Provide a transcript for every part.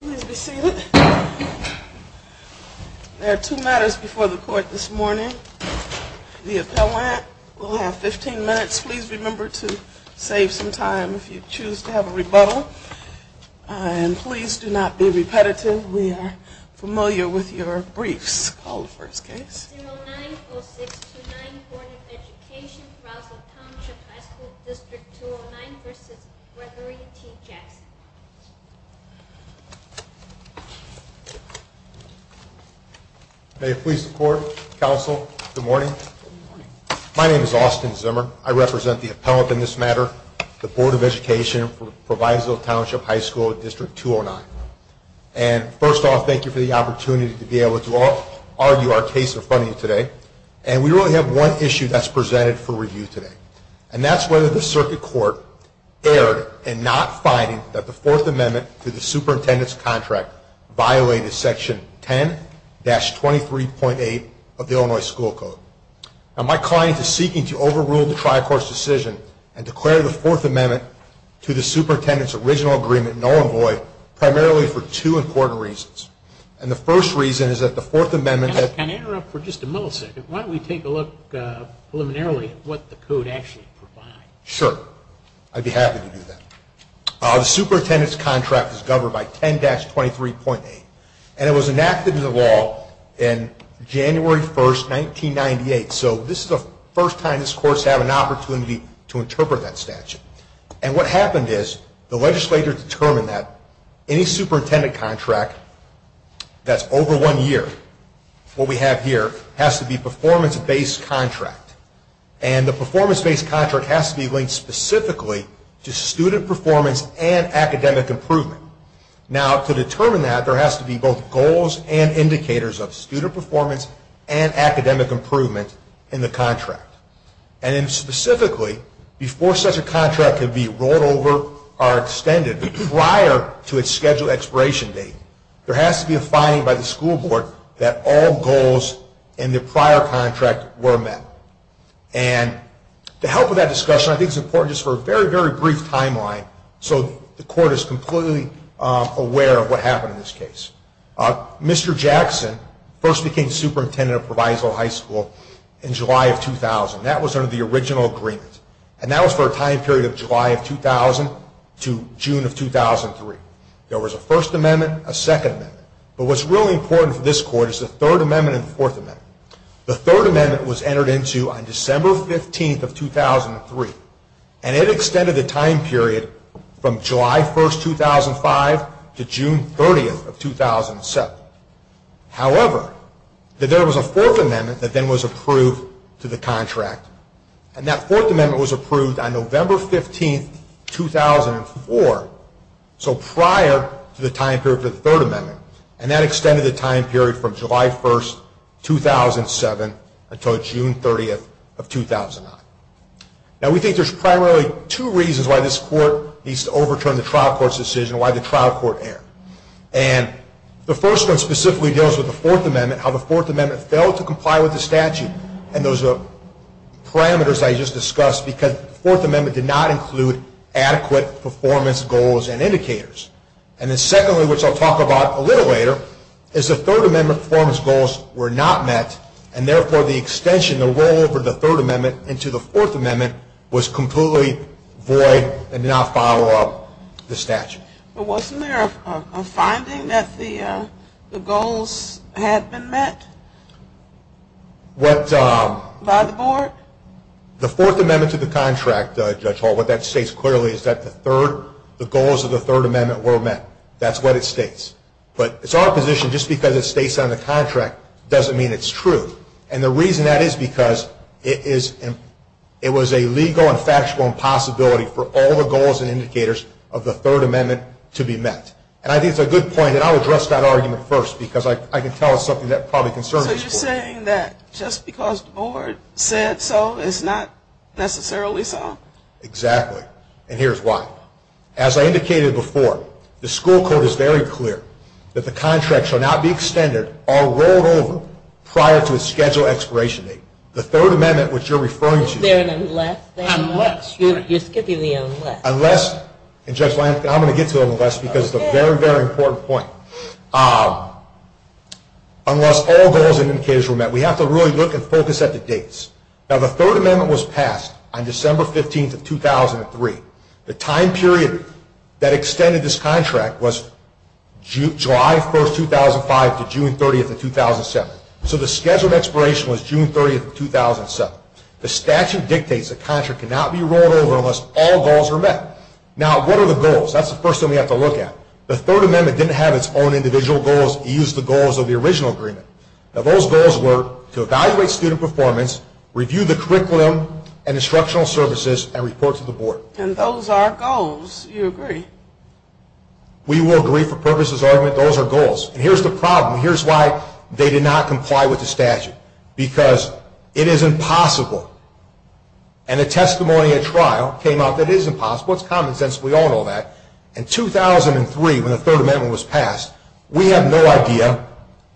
Please be seated. There are two matters before the court this morning. The appellant will have 15 minutes. Please remember to save some time if you choose to have a rebuttal. And please do not be repetitive. We are familiar with your briefs. Call the first case. 090629 Board of Education, Proviso Township High School District 209 v. Gregory T. Jackson May it please the court, counsel, good morning. My name is Austin Zimmer. I represent the appellant in this matter, the Board of Education, Proviso Township High School District 209. And first off, thank you for the opportunity to be able to argue our case in front of you today. And we really have one issue that's presented for review today. And that's whether the circuit court erred in not finding that the Fourth Amendment to the superintendent's contract violated Section 10-23.8 of the Illinois School Code. Now, my client is seeking to overrule the Tri-Courts decision and declare the Fourth Amendment to the superintendent's original agreement null and void, primarily for two important reasons. And the first reason is that the Fourth Amendment... Counsel, can I interrupt for just a millisecond? Why don't we take a look preliminarily at what the code actually provides? Sure. I'd be happy to do that. The superintendent's contract is governed by 10-23.8. And it was enacted into law on January 1st, 1998. So this is the first time this Court's had an opportunity to interpret that statute. And what happened is the legislature determined that any superintendent contract that's over one year, what we have here, has to be a performance-based contract. And the performance-based contract has to be linked specifically to student performance and academic improvement. Now, to determine that, there has to be both goals and indicators of student performance and academic improvement in the contract. And then specifically, before such a contract can be rolled over or extended prior to its scheduled expiration date, there has to be a finding by the school board that all goals in the prior contract were met. And to help with that discussion, I think it's important just for a very, very brief timeline, so the Court is completely aware of what happened in this case. Mr. Jackson first became superintendent of Proviso High School in July of 2000. That was under the original agreement. And that was for a time period of July of 2000 to June of 2003. There was a First Amendment, a Second Amendment. But what's really important for this Court is the Third Amendment and the Fourth Amendment. The Third Amendment was entered into on December 15th of 2003. And it extended the time period from July 1st, 2005 to June 30th of 2007. However, there was a Fourth Amendment that then was approved to the contract. And that Fourth Amendment was approved on November 15th, 2004. So prior to the time period for the Third Amendment. And that extended the time period from July 1st, 2007 until June 30th of 2009. Now, we think there's primarily two reasons why this Court needs to overturn the trial court's decision and why the trial court erred. And the first one specifically deals with the Fourth Amendment, how the Fourth Amendment failed to comply with the statute and those parameters I just discussed because the Fourth Amendment did not include adequate performance goals and indicators. And then secondly, which I'll talk about a little later, is the Third Amendment performance goals were not met. And therefore, the extension, the rollover of the Third Amendment into the Fourth Amendment was completely void and did not follow up the statute. But wasn't there a finding that the goals had been met by the Board? The Fourth Amendment to the contract, Judge Hall, what that states clearly is that the goals of the Third Amendment were met. That's what it states. But it's our position just because it states on the contract doesn't mean it's true. And the reason that is because it was a legal and factual impossibility for all the goals and indicators of the Third Amendment to be met. And I think it's a good point, and I'll address that argument first because I can tell it's something that probably concerns this Court. So you're saying that just because the Board said so, it's not necessarily so? Exactly. And here's why. As I indicated before, the school code is very clear that the contract shall not be extended or rolled over prior to its scheduled expiration date. The Third Amendment, which you're referring to... Is there an unless thing? Unless. You're skipping the unless. Unless, and Judge Lansing, I'm going to get to the unless because it's a very, very important point. Unless all goals and indicators were met. We have to really look and focus at the dates. Now, the Third Amendment was passed on December 15, 2003. The time period that extended this contract was July 1, 2005 to June 30, 2007. So the scheduled expiration was June 30, 2007. The statute dictates the contract cannot be rolled over unless all goals are met. Now, what are the goals? That's the first thing we have to look at. The Third Amendment didn't have its own individual goals. It used the goals of the original agreement. Now, those goals were to evaluate student performance, review the curriculum and instructional services, and report to the board. And those are goals. Do you agree? We will agree for purposes of argument. Those are goals. And here's the problem. Here's why they did not comply with the statute. Because it is impossible. And the testimony at trial came out that it is impossible. It's common sense. We all know that. In 2003, when the Third Amendment was passed, we have no idea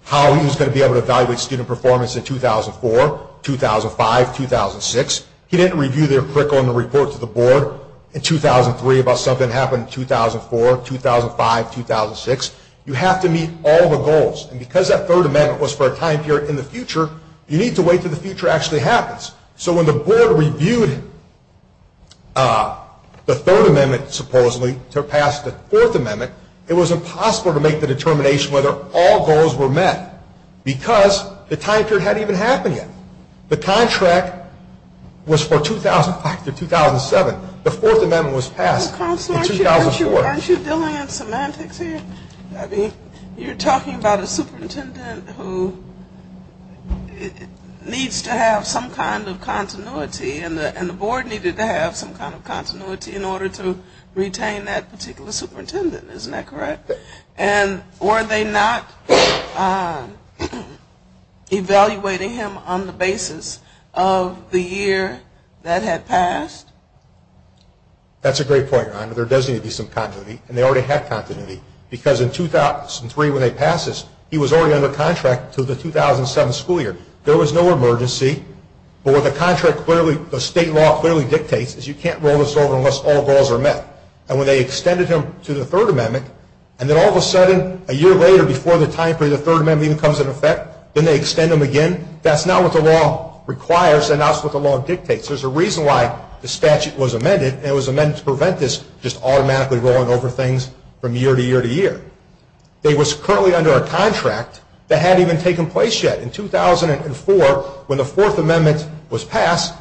how he was going to be able to evaluate student performance in 2004, 2005, 2006. He didn't review the curriculum and report to the board in 2003 about something that happened in 2004, 2005, 2006. You have to meet all the goals. And because that Third Amendment was for a time period in the future, you need to wait until the future actually happens. So when the board reviewed the Third Amendment, supposedly, to pass the Fourth Amendment, it was impossible to make the determination whether all goals were met because the time period hadn't even happened yet. The contract was for 2005 to 2007. The Fourth Amendment was passed in 2004. Counselor, aren't you dealing in semantics here? You're talking about a superintendent who needs to have some kind of continuity and the board needed to have some kind of continuity in order to retain that particular superintendent. Isn't that correct? And were they not evaluating him on the basis of the year that had passed? That's a great point, Rhonda. There does need to be some continuity. And they already had continuity because in 2003 when they passed this, he was already under contract until the 2007 school year. There was no emergency. But what the state law clearly dictates is you can't roll this over unless all goals are met. And when they extended him to the Third Amendment, and then all of a sudden a year later before the time period of the Third Amendment even comes into effect, then they extend him again, that's not what the law requires. That's not what the law dictates. There's a reason why the statute was amended, and it was amended to prevent this just automatically rolling over things from year to year to year. They was currently under a contract that hadn't even taken place yet. In 2004, when the Fourth Amendment was passed,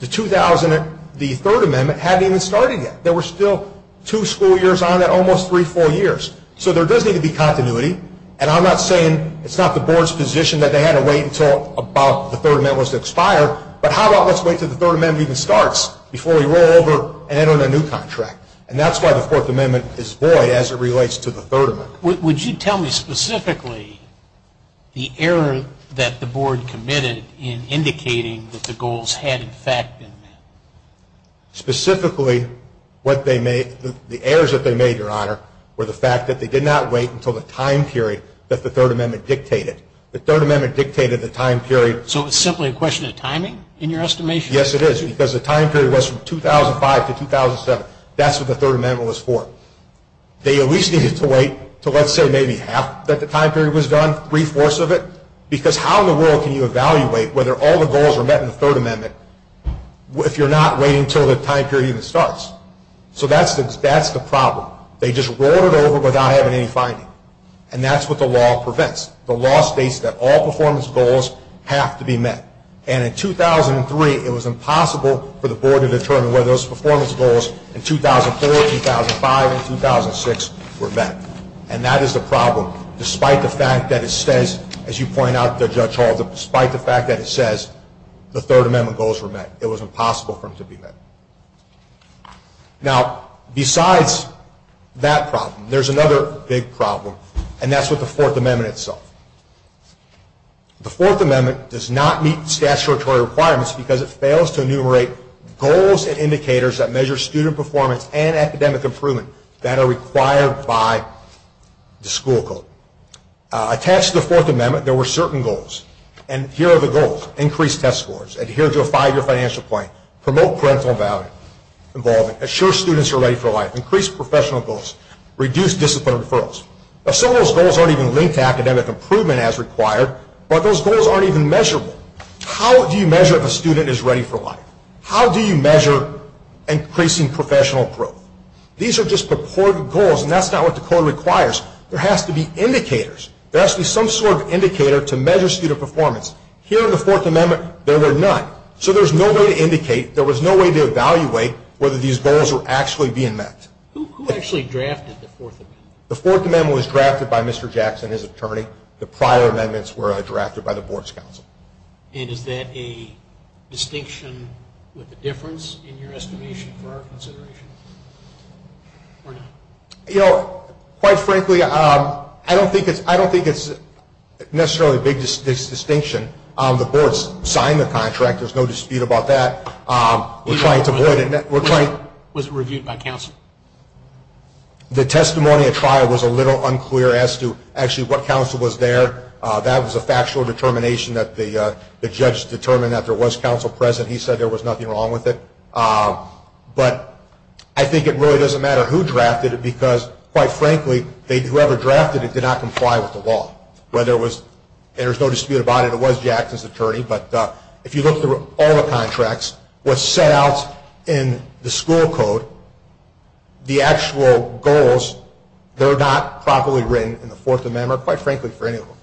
the Third Amendment hadn't even started yet. There were still two school years on it, almost three, four years. So there does need to be continuity. And I'm not saying it's not the board's position that they had to wait until about the Third Amendment was expired, but how about let's wait until the Third Amendment even starts before we roll over and enter in a new contract. And that's why the Fourth Amendment is void as it relates to the Third Amendment. Would you tell me specifically the error that the board committed in indicating that the goals had in fact been met? Specifically, the errors that they made, Your Honor, were the fact that they did not wait until the time period that the Third Amendment dictated. The Third Amendment dictated the time period. So it's simply a question of timing in your estimation? Yes, it is, because the time period was from 2005 to 2007. That's what the Third Amendment was for. They at least needed to wait until, let's say, maybe half that the time period was done, three-fourths of it, because how in the world can you evaluate whether all the goals were met in the Third Amendment if you're not waiting until the time period even starts? So that's the problem. They just rolled it over without having any finding, and that's what the law prevents. The law states that all performance goals have to be met. And in 2003, it was impossible for the board to determine whether those performance goals in 2004, 2005, and 2006 were met. And that is the problem, despite the fact that it says, as you point out there, Judge Halter, despite the fact that it says the Third Amendment goals were met. It was impossible for them to be met. Now, besides that problem, there's another big problem, and that's with the Fourth Amendment itself. The Fourth Amendment does not meet statutory requirements because it fails to enumerate goals and indicators that measure student performance and academic improvement that are required by the school code. Attached to the Fourth Amendment, there were certain goals. And here are the goals. Increase test scores. Adhere to a five-year financial plan. Promote parental involvement. Assure students are ready for life. Increase professional goals. Reduce discipline referrals. Some of those goals aren't even linked to academic improvement as required, but those goals aren't even measurable. How do you measure if a student is ready for life? How do you measure increasing professional growth? These are just purported goals, and that's not what the code requires. There has to be indicators. There has to be some sort of indicator to measure student performance. Here in the Fourth Amendment, there were none. So there was no way to indicate, there was no way to evaluate whether these goals were actually being met. Who actually drafted the Fourth Amendment? The Fourth Amendment was drafted by Mr. Jackson, his attorney. The prior amendments were drafted by the Board's counsel. And is that a distinction with a difference in your estimation for our consideration or not? You know, quite frankly, I don't think it's necessarily a big distinction. The Board's signed the contract. There's no dispute about that. We're trying to avoid it. Was it reviewed by counsel? The testimony at trial was a little unclear as to actually what counsel was there. That was a factual determination that the judge determined that there was counsel present. He said there was nothing wrong with it. But I think it really doesn't matter who drafted it because, quite frankly, whoever drafted it did not comply with the law. There was no dispute about it. It was Jackson's attorney. But if you look through all the contracts, what's set out in the school code, the actual goals, they're not properly written in the Fourth Amendment, quite frankly, for any of them,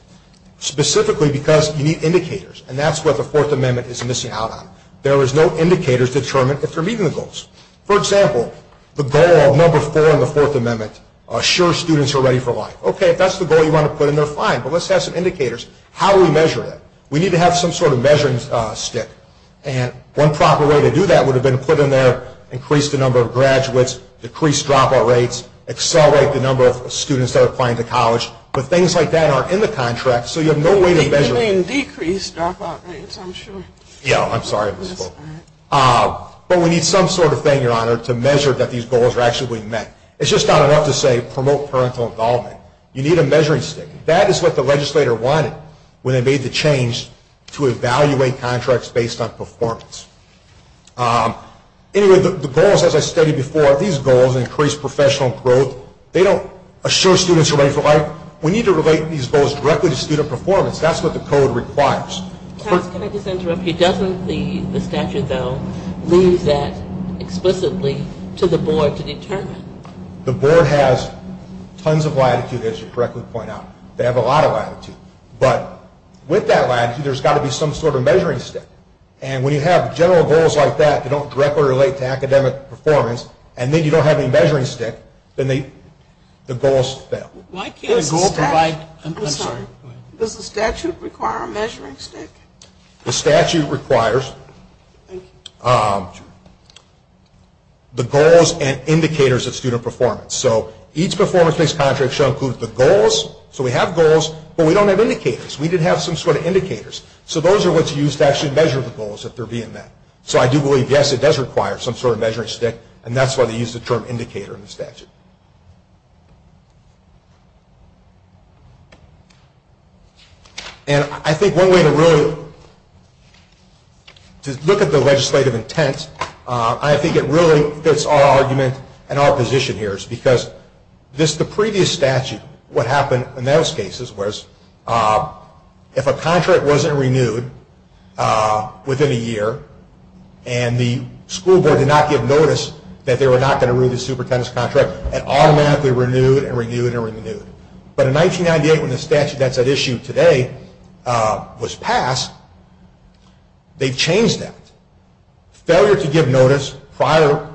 specifically because you need indicators. And that's what the Fourth Amendment is missing out on. There is no indicator to determine if they're meeting the goals. For example, the goal of number four in the Fourth Amendment assures students they're ready for life. Okay, if that's the goal you want to put in, they're fine. But let's have some indicators. How do we measure that? We need to have some sort of measuring stick. And one proper way to do that would have been to put in there, increase the number of graduates, decrease dropout rates, accelerate the number of students that are applying to college. But things like that aren't in the contract, so you have no way to measure it. You mean decrease dropout rates, I'm sure. Yeah, I'm sorry. But we need some sort of thing, Your Honor, to measure that these goals are actually being met. It's just not enough to say promote parental involvement. You need a measuring stick. That is what the legislator wanted when they made the change to evaluate contracts based on performance. Anyway, the goals, as I stated before, these goals, increase professional growth, they don't assure students they're ready for life. We need to relate these goals directly to student performance. That's what the code requires. Can I just interrupt you? Doesn't the statute, though, leave that explicitly to the board to determine? The board has tons of latitude, as you correctly point out. They have a lot of latitude. But with that latitude, there's got to be some sort of measuring stick. And when you have general goals like that that don't directly relate to academic performance, and then you don't have any measuring stick, then the goals fail. Why can't the statute provide, I'm sorry, does the statute require a measuring stick? The statute requires the goals and indicators of student performance. So each performance-based contract shall include the goals. So we have goals, but we don't have indicators. We did have some sort of indicators. So those are what's used to actually measure the goals that are being met. So I do believe, yes, it does require some sort of measuring stick, and that's why they use the term indicator in the statute. And I think one way to really look at the legislative intent, I think it really fits our argument and our position here, is because the previous statute, what happened in those cases, was if a contract wasn't renewed within a year, and the school board did not give notice that they were not going to renew the superintendent's contract, it automatically renewed and renewed and renewed. But in 1998, when the statute that's at issue today was passed, they changed that. Failure to give notice prior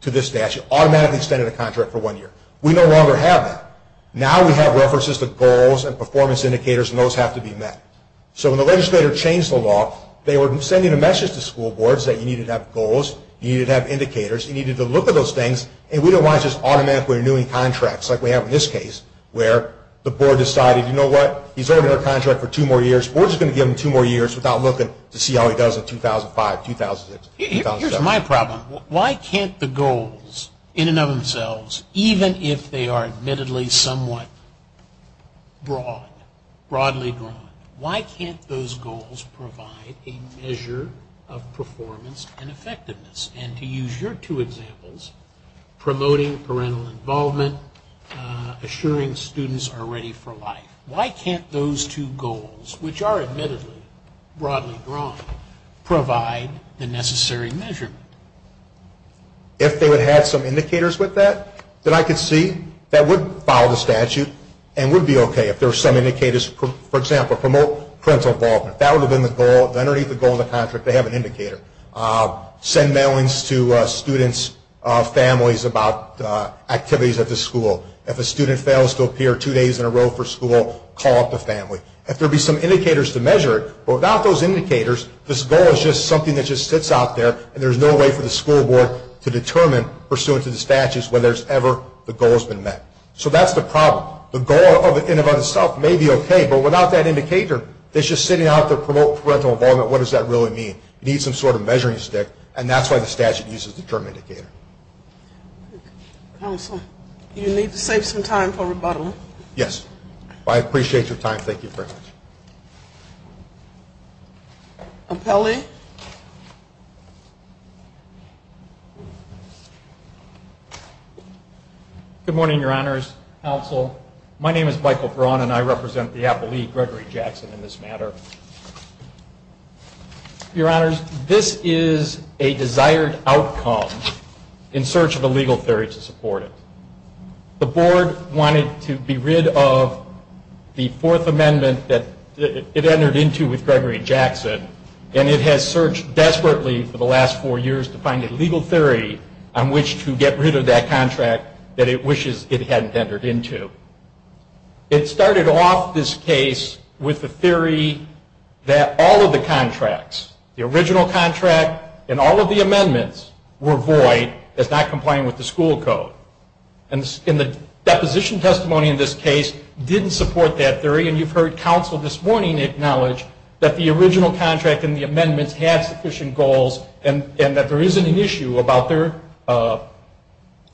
to this statute automatically extended a contract for one year. We no longer have that. Now we have references to goals and performance indicators, and those have to be met. So when the legislator changed the law, they were sending a message to school boards that you needed to have goals, you needed to have indicators, you needed to look at those things, and we don't want to just automatically renew any contracts like we have in this case, where the board decided, you know what, he's ordered a contract for two more years. The board is going to give him two more years without looking to see how he does in 2005, 2006, 2007. Here's my problem. Why can't the goals in and of themselves, even if they are admittedly somewhat broad, broadly drawn, why can't those goals provide a measure of performance and effectiveness? And to use your two examples, promoting parental involvement, assuring students are ready for life. Why can't those two goals, which are admittedly broadly drawn, provide the necessary measurement? If they would have some indicators with that, then I could see that would follow the statute and would be okay if there were some indicators. For example, promote parental involvement. That would have been the goal. Underneath the goal in the contract, they have an indicator. Send mailings to students' families about activities at the school. If a student fails to appear two days in a row for school, call up the family. If there be some indicators to measure it, without those indicators, this goal is just something that just sits out there, and there's no way for the school board to determine, pursuant to the statutes, whether ever the goal has been met. So that's the problem. The goal in and of itself may be okay, but without that indicator, it's just sitting out there, promote parental involvement. What does that really mean? You need some sort of measuring stick, and that's why the statute uses the term indicator. Counsel, you need to save some time for rebuttal. Yes. I appreciate your time. Thank you very much. Appellee. Good morning, Your Honors. Counsel, my name is Michael Braun, and I represent the Appellee, Gregory Jackson, in this matter. Your Honors, this is a desired outcome in search of a legal theory to support it. The board wanted to be rid of the Fourth Amendment that it entered into with Gregory Jackson, and it has searched desperately for the last four years to find a legal theory on which to get rid of that contract that it wishes it hadn't entered into. It started off this case with the theory that all of the contracts, the original contract and all of the amendments, were void. It's not complying with the school code. And the deposition testimony in this case didn't support that theory, and you've heard counsel this morning acknowledge that the original contract and the amendments had sufficient goals and that there isn't an issue about their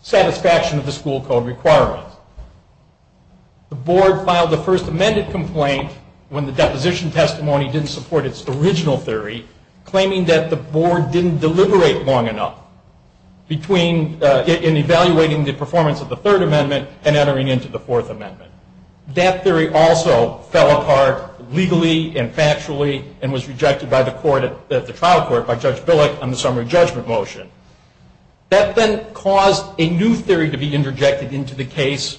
satisfaction of the school code requirements. The board filed the first amended complaint when the deposition testimony didn't support its original theory, claiming that the board didn't deliberate long enough in evaluating the performance of the Third Amendment and entering into the Fourth Amendment. That theory also fell apart legally and factually and was rejected by the trial court by Judge Billick on the summary judgment motion. That then caused a new theory to be interjected into the case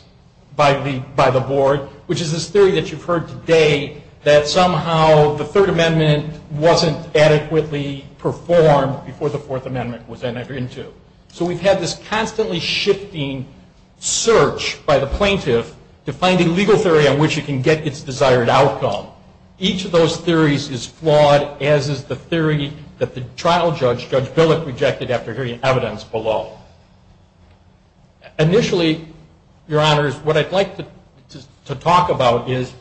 by the board, which is this theory that you've heard today that somehow the Third Amendment wasn't adequately performed before the Fourth Amendment was entered into. So we've had this constantly shifting search by the plaintiff to find a legal theory on which it can get its desired outcome. Each of those theories is flawed, as is the theory that the trial judge, Judge Billick, rejected after hearing evidence below. Initially, Your Honors, what I'd like to talk about is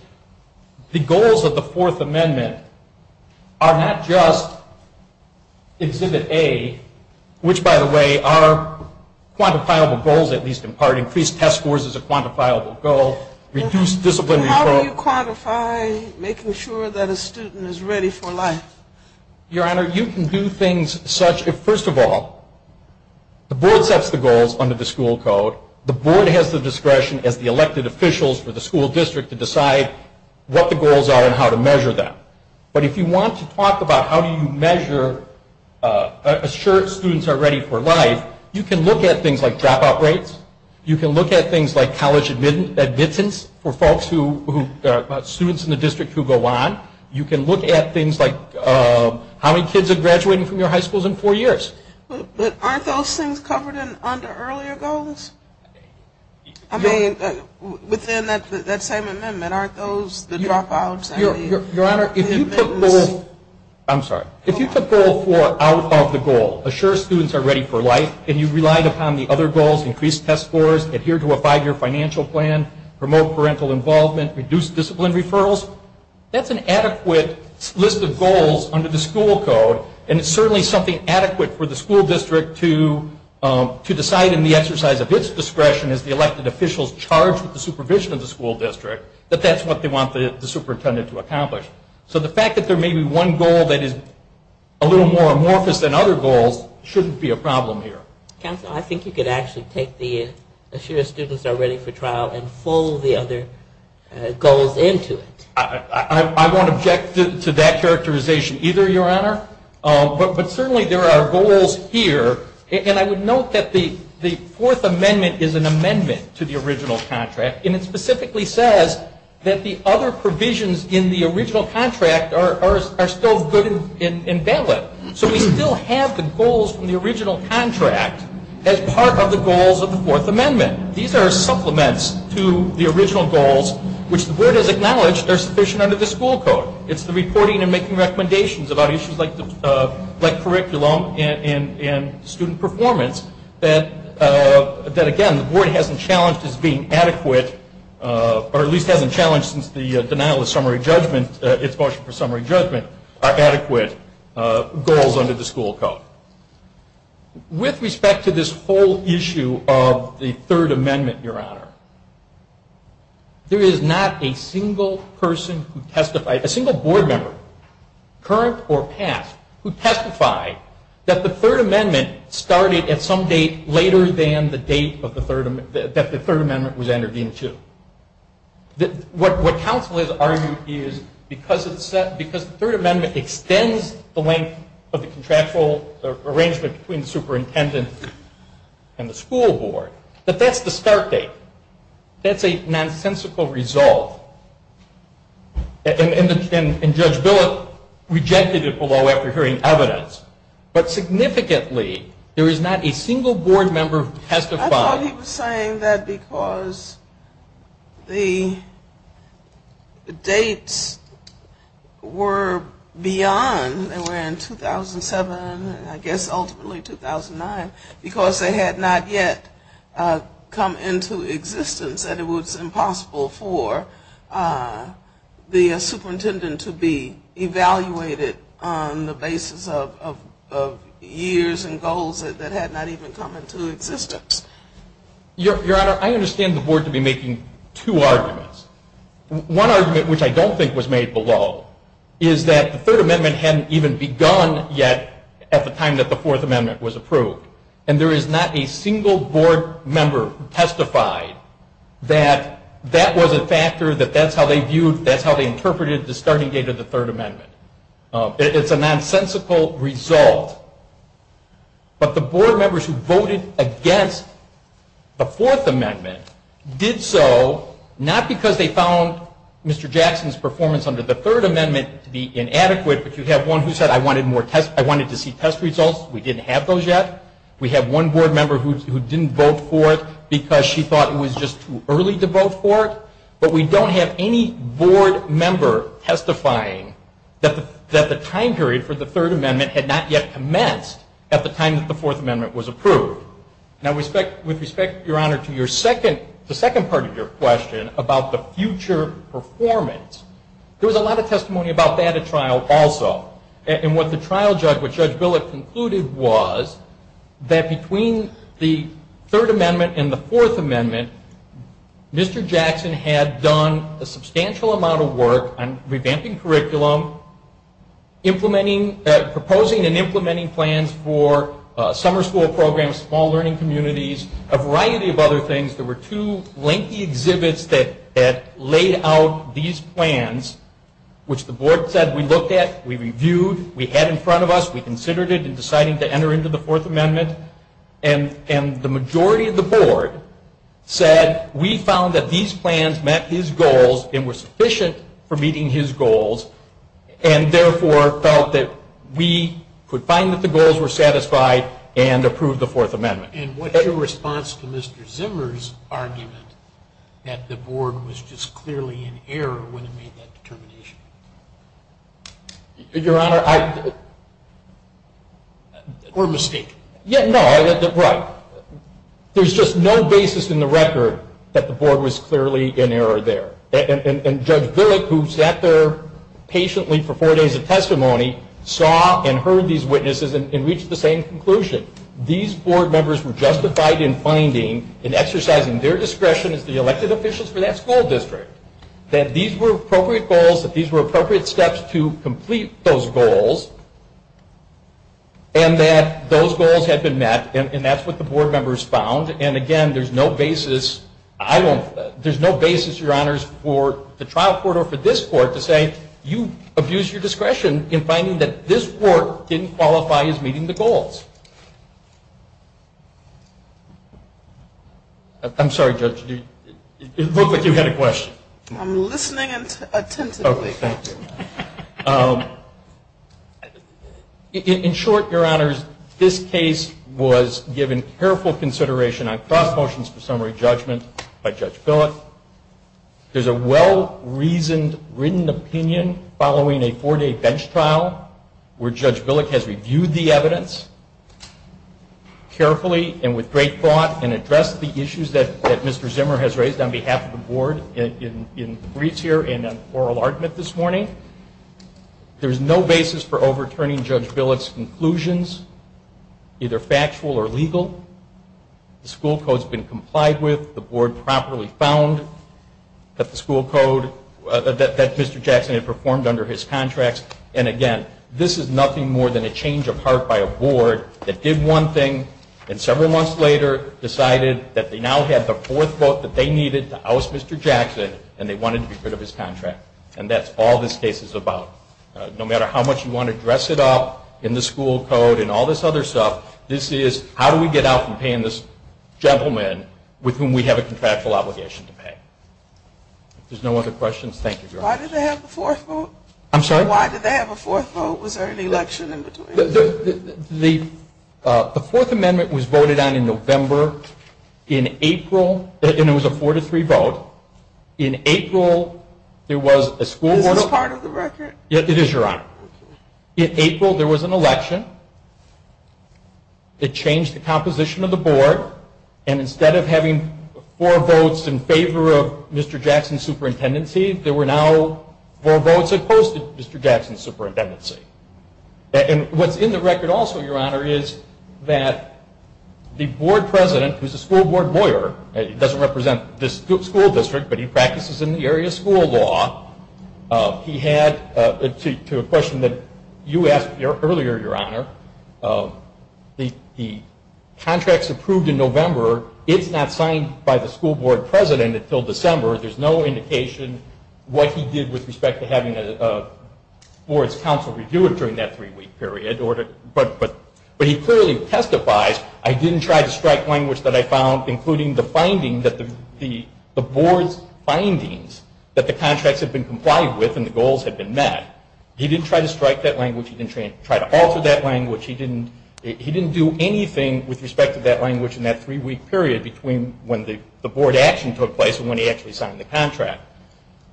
the goals of the Fourth Amendment are not just Exhibit A, which, by the way, are quantifiable goals, at least in part. Increased test scores is a quantifiable goal. How do you quantify making sure that a student is ready for life? Your Honor, you can do things such as, first of all, the board sets the goals under the school code. The board has the discretion as the elected officials for the school district to decide what the goals are and how to measure them. But if you want to talk about how you measure, assure students are ready for life, you can look at things like dropout rates. You can look at things like college admittance for students in the district who go on. You can look at things like how many kids are graduating from your high schools in four years. But aren't those things covered under earlier goals? I mean, within that same amendment, aren't those the dropouts? Your Honor, if you put goal four out of the goal, assure students are ready for life, and you relied upon the other goals, increased test scores, adhere to a five-year financial plan, promote parental involvement, reduce discipline referrals, that's an adequate list of goals under the school code, and it's certainly something adequate for the school district to decide in the exercise of its discretion as the elected officials charge with the supervision of the school district that that's what they want the superintendent to accomplish. So the fact that there may be one goal that is a little more amorphous than other goals shouldn't be a problem here. Counsel, I think you could actually take the assure students are ready for trial and fold the other goals into it. I won't object to that characterization either, Your Honor. But certainly there are goals here. And I would note that the Fourth Amendment is an amendment to the original contract, and it specifically says that the other provisions in the original contract are still good and valid. So we still have the goals from the original contract as part of the goals of the Fourth Amendment. These are supplements to the original goals, which the board has acknowledged are sufficient under the school code. It's the reporting and making recommendations about issues like curriculum and student performance that, again, the board hasn't challenged as being adequate, or at least hasn't challenged since the denial of its motion for summary judgment are adequate. Goals under the school code. With respect to this whole issue of the Third Amendment, Your Honor, there is not a single person who testified, a single board member, current or past, who testified that the Third Amendment started at some date later than the date that the Third Amendment was entered into. What counsel has argued is because the Third Amendment extends the length of the contractual arrangement between the superintendent and the school board, that that's the start date. That's a nonsensical result. And Judge Billett rejected it below after hearing evidence. But significantly, there is not a single board member who testified. I thought he was saying that because the dates were beyond, they were in 2007 and I guess ultimately 2009, because they had not yet come into existence and it was impossible for the superintendent to be evaluated on the basis of years and goals that had not even come into existence. Your Honor, I understand the board to be making two arguments. One argument, which I don't think was made below, is that the Third Amendment hadn't even begun yet at the time that the Fourth Amendment was approved. And there is not a single board member who testified that that was a factor, that that's how they viewed, that's how they interpreted the starting date of the Third Amendment. It's a nonsensical result. But the board members who voted against the Fourth Amendment did so not because they found Mr. Jackson's performance under the Third Amendment to be inadequate, but you have one who said, I wanted to see test results. We didn't have those yet. We have one board member who didn't vote for it because she thought it was just too early to vote for it. But we don't have any board member testifying that the time period for the Third Amendment had not yet commenced at the time that the Fourth Amendment was approved. Now, with respect, Your Honor, to the second part of your question about the future performance, there was a lot of testimony about that at trial also. And what the trial judge, Judge Billick, concluded was that between the Third Amendment and the Fourth Amendment, Mr. Jackson had done a substantial amount of work on revamping curriculum, proposing and implementing plans for summer school programs, small learning communities, a variety of other things. There were two lengthy exhibits that laid out these plans, which the board said we looked at, we reviewed, we had in front of us, we considered it, and decided to enter into the Fourth Amendment. And the majority of the board said we found that these plans met his goals and were sufficient for meeting his goals, and therefore felt that we could find that the goals were satisfied and approve the Fourth Amendment. And what's your response to Mr. Zimmer's argument that the board was just clearly in error when it made that determination? Your Honor, I... Or a mistake. Yeah, no, right. There's just no basis in the record that the board was clearly in error there. And Judge Billick, who sat there patiently for four days of testimony, saw and heard these witnesses and reached the same conclusion. These board members were justified in finding and exercising their discretion as the elected officials for that school district that these were appropriate goals, that these were appropriate steps to complete those goals, and that those goals had been met. And that's what the board members found. And again, there's no basis, Your Honors, for the trial court or for this court to say you abused your discretion in finding that this court didn't qualify as meeting the goals. I'm sorry, Judge, it looked like you had a question. I'm listening attentively. In short, Your Honors, this case was given careful consideration on cross motions for summary judgment by Judge Billick. There's a well-reasoned, written opinion following a four-day bench trial where Judge Billick has reviewed the evidence carefully and with great accuracy. There's no basis for overturning Judge Billick's conclusions, either factual or legal. The school code has been complied with. The board properly found that Mr. Jackson had performed under his contracts. And again, this is nothing more than a change of heart by a board that did one thing and several months later decided that they now had the fourth vote that they needed to oust Mr. Jackson and they wanted to be rid of his contract. And that's all this case is about. No matter how much you want to dress it up in the school code and all this other stuff, this is how do we get out from paying this gentleman with whom we have a contractual obligation to pay. If there's no other questions, thank you, Your Honor. Why did they have a fourth vote? Was there an election in between? The Fourth Amendment was voted on in November. In April, there was a four-to-three vote. In April, there was an election that changed the composition of the board. And instead of having four votes in favor of Mr. Jackson's superintendency, there were now four votes opposed to Mr. Jackson's superintendency. And what's in the record also, Your Honor, is that the board president, who's a school board lawyer, doesn't represent this school district, but he practices in the area of school law. He had, to a question that you asked earlier, Your Honor, the contracts approved in November, it's not signed by the school board president until December. There's no indication what he did with respect to having a board's counsel review it during that three-week period. But he clearly testifies, I didn't try to strike language that I found, including the finding that the board's findings that the contracts have been complied with and the goals have been met. He didn't try to strike that language. He didn't try to alter that language. He didn't do anything with respect to that language in that three-week period between when the board action took place and when he actually signed the contract.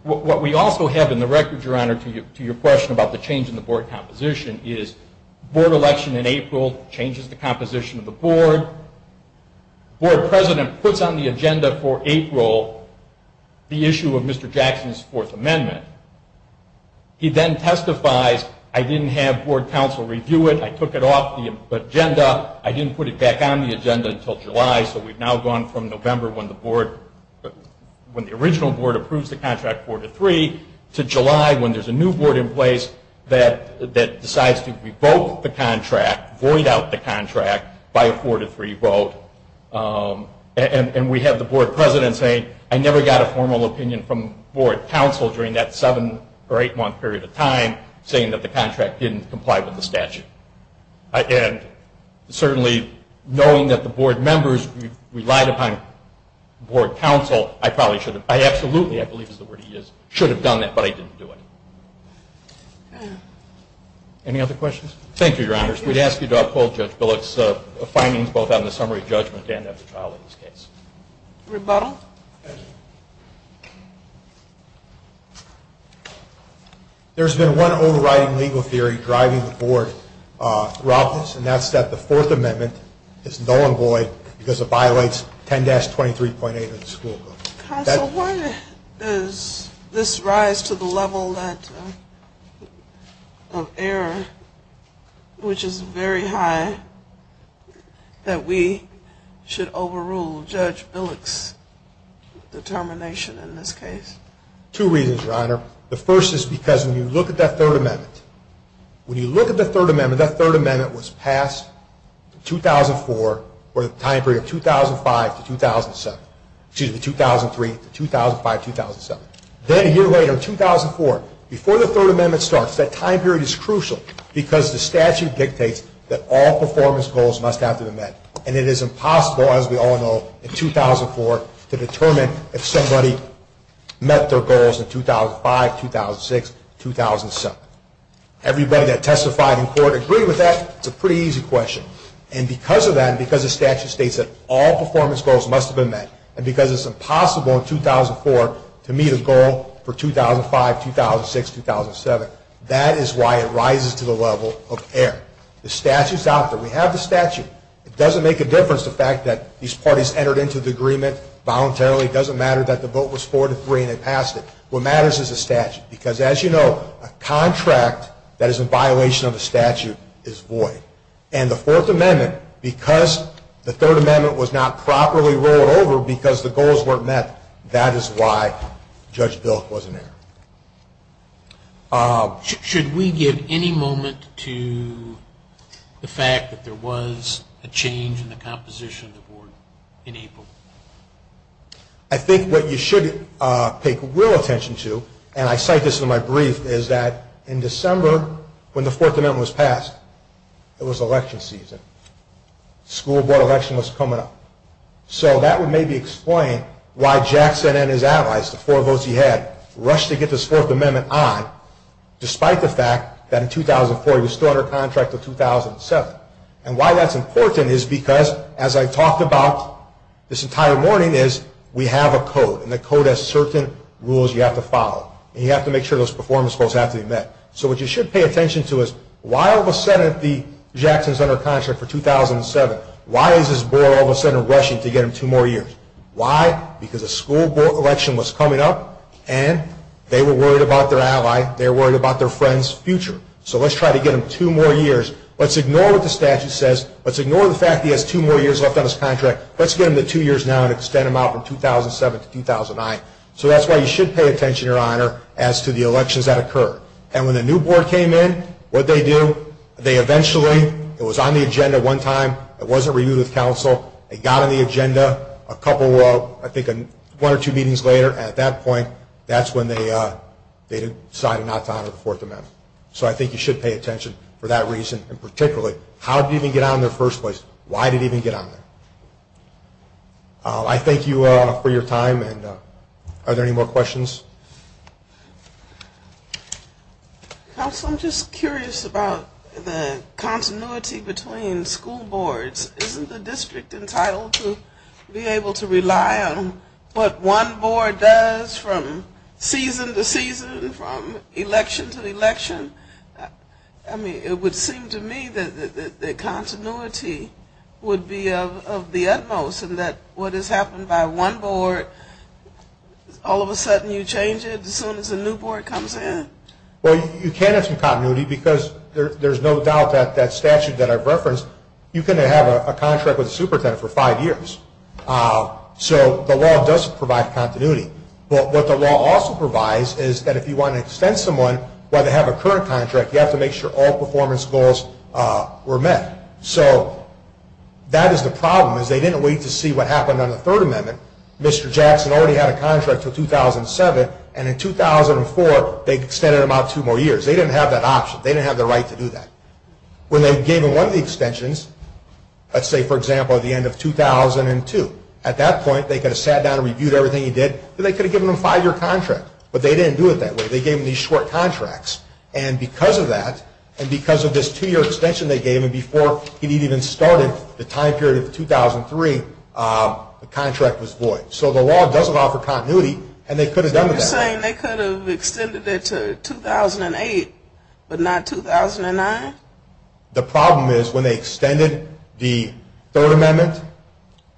What we also have in the record, Your Honor, to your question about the change in the board composition, is the board election in April changes the composition of the board. The board president puts on the agenda for April the issue of Mr. Jackson's Fourth Amendment. He then testifies, I didn't have board counsel review it. I took it off the agenda. I didn't put it back on the agenda until July. So we've now gone from November when the original board approves the contract 4-3 to July when there's a new board in place that decides to revoke the contract, void out the contract by a 4-3 vote. And we have the board president saying, I never got a formal opinion from board counsel during that seven or eight-month period of time saying that the contract didn't comply with the statute. And certainly knowing that the board members relied upon board counsel, I probably should have, I absolutely, I believe is the word he used, should have done that, but I didn't do it. Any other questions? Thank you, Your Honors. Rebuttal. There's been one overriding legal theory driving the board throughout this, and that's that the Fourth Amendment is null and void because it violates 10-23.8 of the school code. So why is this rise to the level of error, which is very high, that we should overrule Judge Billick's determination in this case? Two reasons, Your Honor. The first is because when you look at that Third Amendment, when you look at the Third Amendment, that Third Amendment was passed in 2004 for the time period 2003 to 2005-2007. Then a year later, in 2004, before the Third Amendment starts, that time period is crucial because the statute dictates that all performance goals must have to be met. And it is impossible, as we all know, in 2004 to determine if somebody met their goals in 2005, 2006, 2007. Everybody that testified in court agreed with that. It's a pretty easy question. And because of that, and because the statute states that all performance goals must have been met, and because it's impossible in 2004 to meet a goal for 2005, 2006, 2007, that is why it rises to the level of error. The statute's out there. We have the statute. It doesn't make a difference, the fact that these parties entered into the agreement voluntarily. It doesn't matter that the vote was 4-3 and they passed it. What matters is the statute because, as you know, a contract that is in violation of the statute is void. And the Fourth Amendment, because the Third Amendment was not properly rolled over because the goals weren't met, that is why Judge Bilk was in error. Should we give any moment to the fact that there was a change in the composition of the board in April? I think what you should pay real attention to, and I cite this in my brief, is that in December, when the Fourth Amendment was passed, it was election season. School board election was coming up. So that would maybe explain why Jackson and his allies, the four votes he had, rushed to get this Fourth Amendment on, despite the fact that in 2004 he was still under contract until 2007. And why that's important is because, as I talked about this entire morning, is we have a code. And the code has certain rules you have to follow. And you have to make sure those performance goals have to be met. So what you should pay attention to is why all of a sudden the Jacksons under contract for 2007, why is this board all of a sudden rushing to get him two more years? Why? Because a school board election was coming up, and they were worried about their ally. They were worried about their friend's future. So let's try to get him two more years. Let's ignore what the statute says. Let's ignore the fact that he has two more years left on his contract. Let's get him to two years now and extend him out from 2007 to 2009. So that's why you should pay attention, Your Honor, as to the elections that occur. And when the new board came in, what did they do? They eventually, it was on the agenda one time, it wasn't reviewed with counsel, it got on the agenda a couple, I think one or two meetings later, and at that point, that's when they decided not to honor the Fourth Amendment. So I think you should pay attention for that reason, and particularly, how did it even get on there in the first place? Why did it even get on there? I thank you for your time, and are there any more questions? Counsel, I'm just curious about the continuity between school boards. Isn't the district entitled to be able to rely on what one board does from season to season, from election to election? I mean, it would seem to me that continuity would be of the utmost, and that what has happened by one board, all of a sudden you change it as soon as a new board comes in? Well, you can have some continuity, because there's no doubt that that statute that I've referenced, you can have a contract with a superintendent for five years. So the law does provide continuity. You can't have a short contract. You have to make sure all performance goals were met. So that is the problem, is they didn't wait to see what happened on the Third Amendment. Mr. Jackson already had a contract until 2007, and in 2004, they extended him out two more years. They didn't have that option. They didn't have the right to do that. When they gave him one of the extensions, let's say, for example, at the end of 2002, at that point, they could have sat down and reviewed everything he did, and they could have given him a five-year contract. But they didn't do it that way. They gave him these short contracts, and because of that, and because of this two-year extension they gave him before he had even started the time period of 2003, the contract was void. So the law doesn't offer continuity, and they could have done that. You're saying they could have extended it to 2008, but not 2009? The problem is when they extended the Third Amendment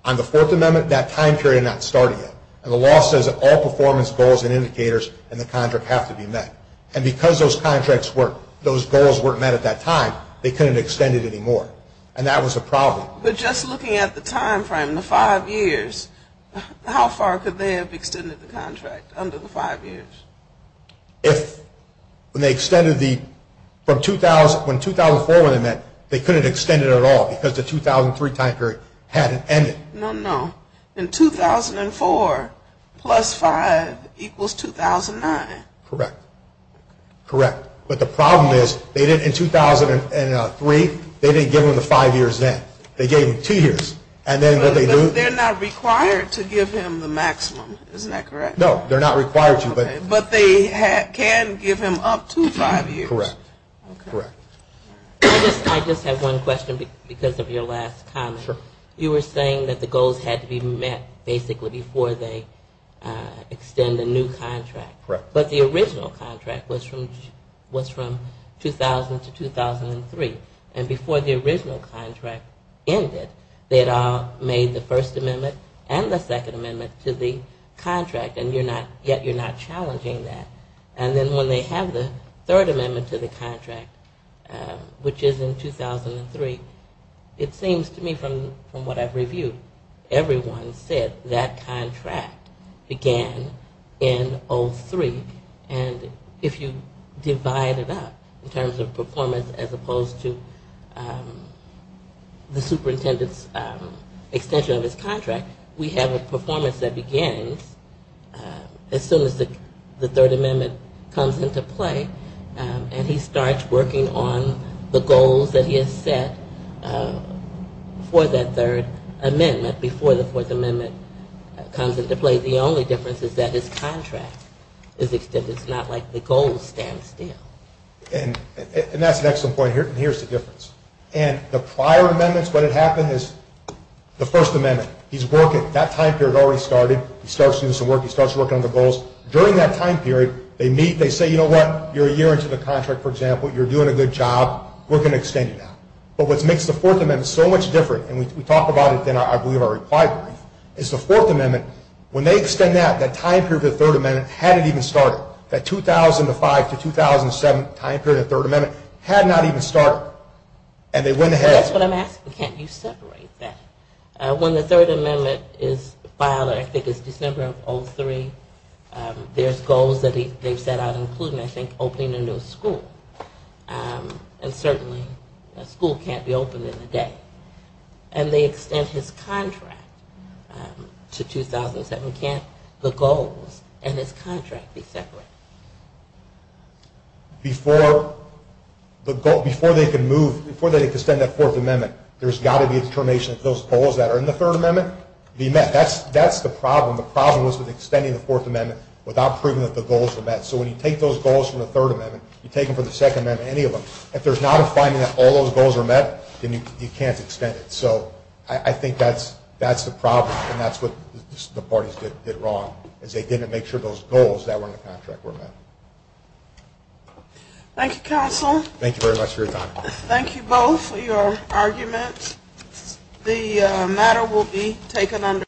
on the Fourth Amendment, that time period had not started yet. And the law says that all performance goals and indicators in the contract have to be met. And because those contracts weren't, those goals weren't met at that time, they couldn't extend it anymore. And that was a problem. But just looking at the time frame, the five years, how far could they have extended the contract under the five years? If, when they extended the, when 2004 went ahead, they couldn't extend it at all because the 2003 time period hadn't ended. No, no. In 2004, plus five equals 2009. Correct. But the problem is, in 2003, they didn't give him the five years then. They gave him two years. But they're not required to give him the maximum, isn't that correct? No, they're not required to. But they can give him up to five years. Correct. I just have one question because of your last comment. You were saying that the goals had to be met basically before they extend a new contract. Correct. But the original contract was from 2000 to 2003. And before the original contract ended, they had made the First Amendment and the Second Amendment to the contract. And you're not, yet you're not challenging that. And then when they have the Third Amendment to the contract, which is in 2003, it seems to me from what I've reviewed, everyone said that contract began in 2003. And if you divide it up in terms of performance as opposed to the superintendent's extension of his contract, we have a performance that begins in 2003. As soon as the Third Amendment comes into play and he starts working on the goals that he has set for that Third Amendment before the Fourth Amendment comes into play, the only difference is that his contract is extended. It's not like the goals stand still. And that's an excellent point. And here's the difference. And the prior amendments, what had happened is the First Amendment, he's working, that time period had already started. He starts doing some work, he starts working on the goals. During that time period, they meet, they say, you know what, you're a year into the contract, for example, you're doing a good job, we're going to extend you now. But what makes the Fourth Amendment so much different, and we talk about it in, I believe, our reply brief, is the Fourth Amendment, when they extend that, that time period of the Third Amendment hadn't even started. That 2005 to 2007 time period of the Third Amendment had not even started. And they went ahead. That's what I'm asking. Can't you separate that? When the Third Amendment is filed, I think it's December of 2003, there's goals that they've set out, including, I think, opening a new school. And certainly a school can't be opened in a day. And they extend his contract to 2007. Can't the goals and his contract be separated? Before they can move, before they can extend that Fourth Amendment, there's got to be a determination that those goals that are in the Third Amendment be met. That's the problem. The problem was with extending the Fourth Amendment without proving that the goals were met. So when you take those goals from the Third Amendment, you take them from the Second Amendment, any of them, if there's not a finding that all those goals are met, then you can't extend it. So I think that's the problem, and that's what the parties did wrong, is they didn't make sure those goals that were in the contract were met. Thank you, counsel. Thank you very much for your time. Thank you both for your arguments. The matter will be taken under consideration.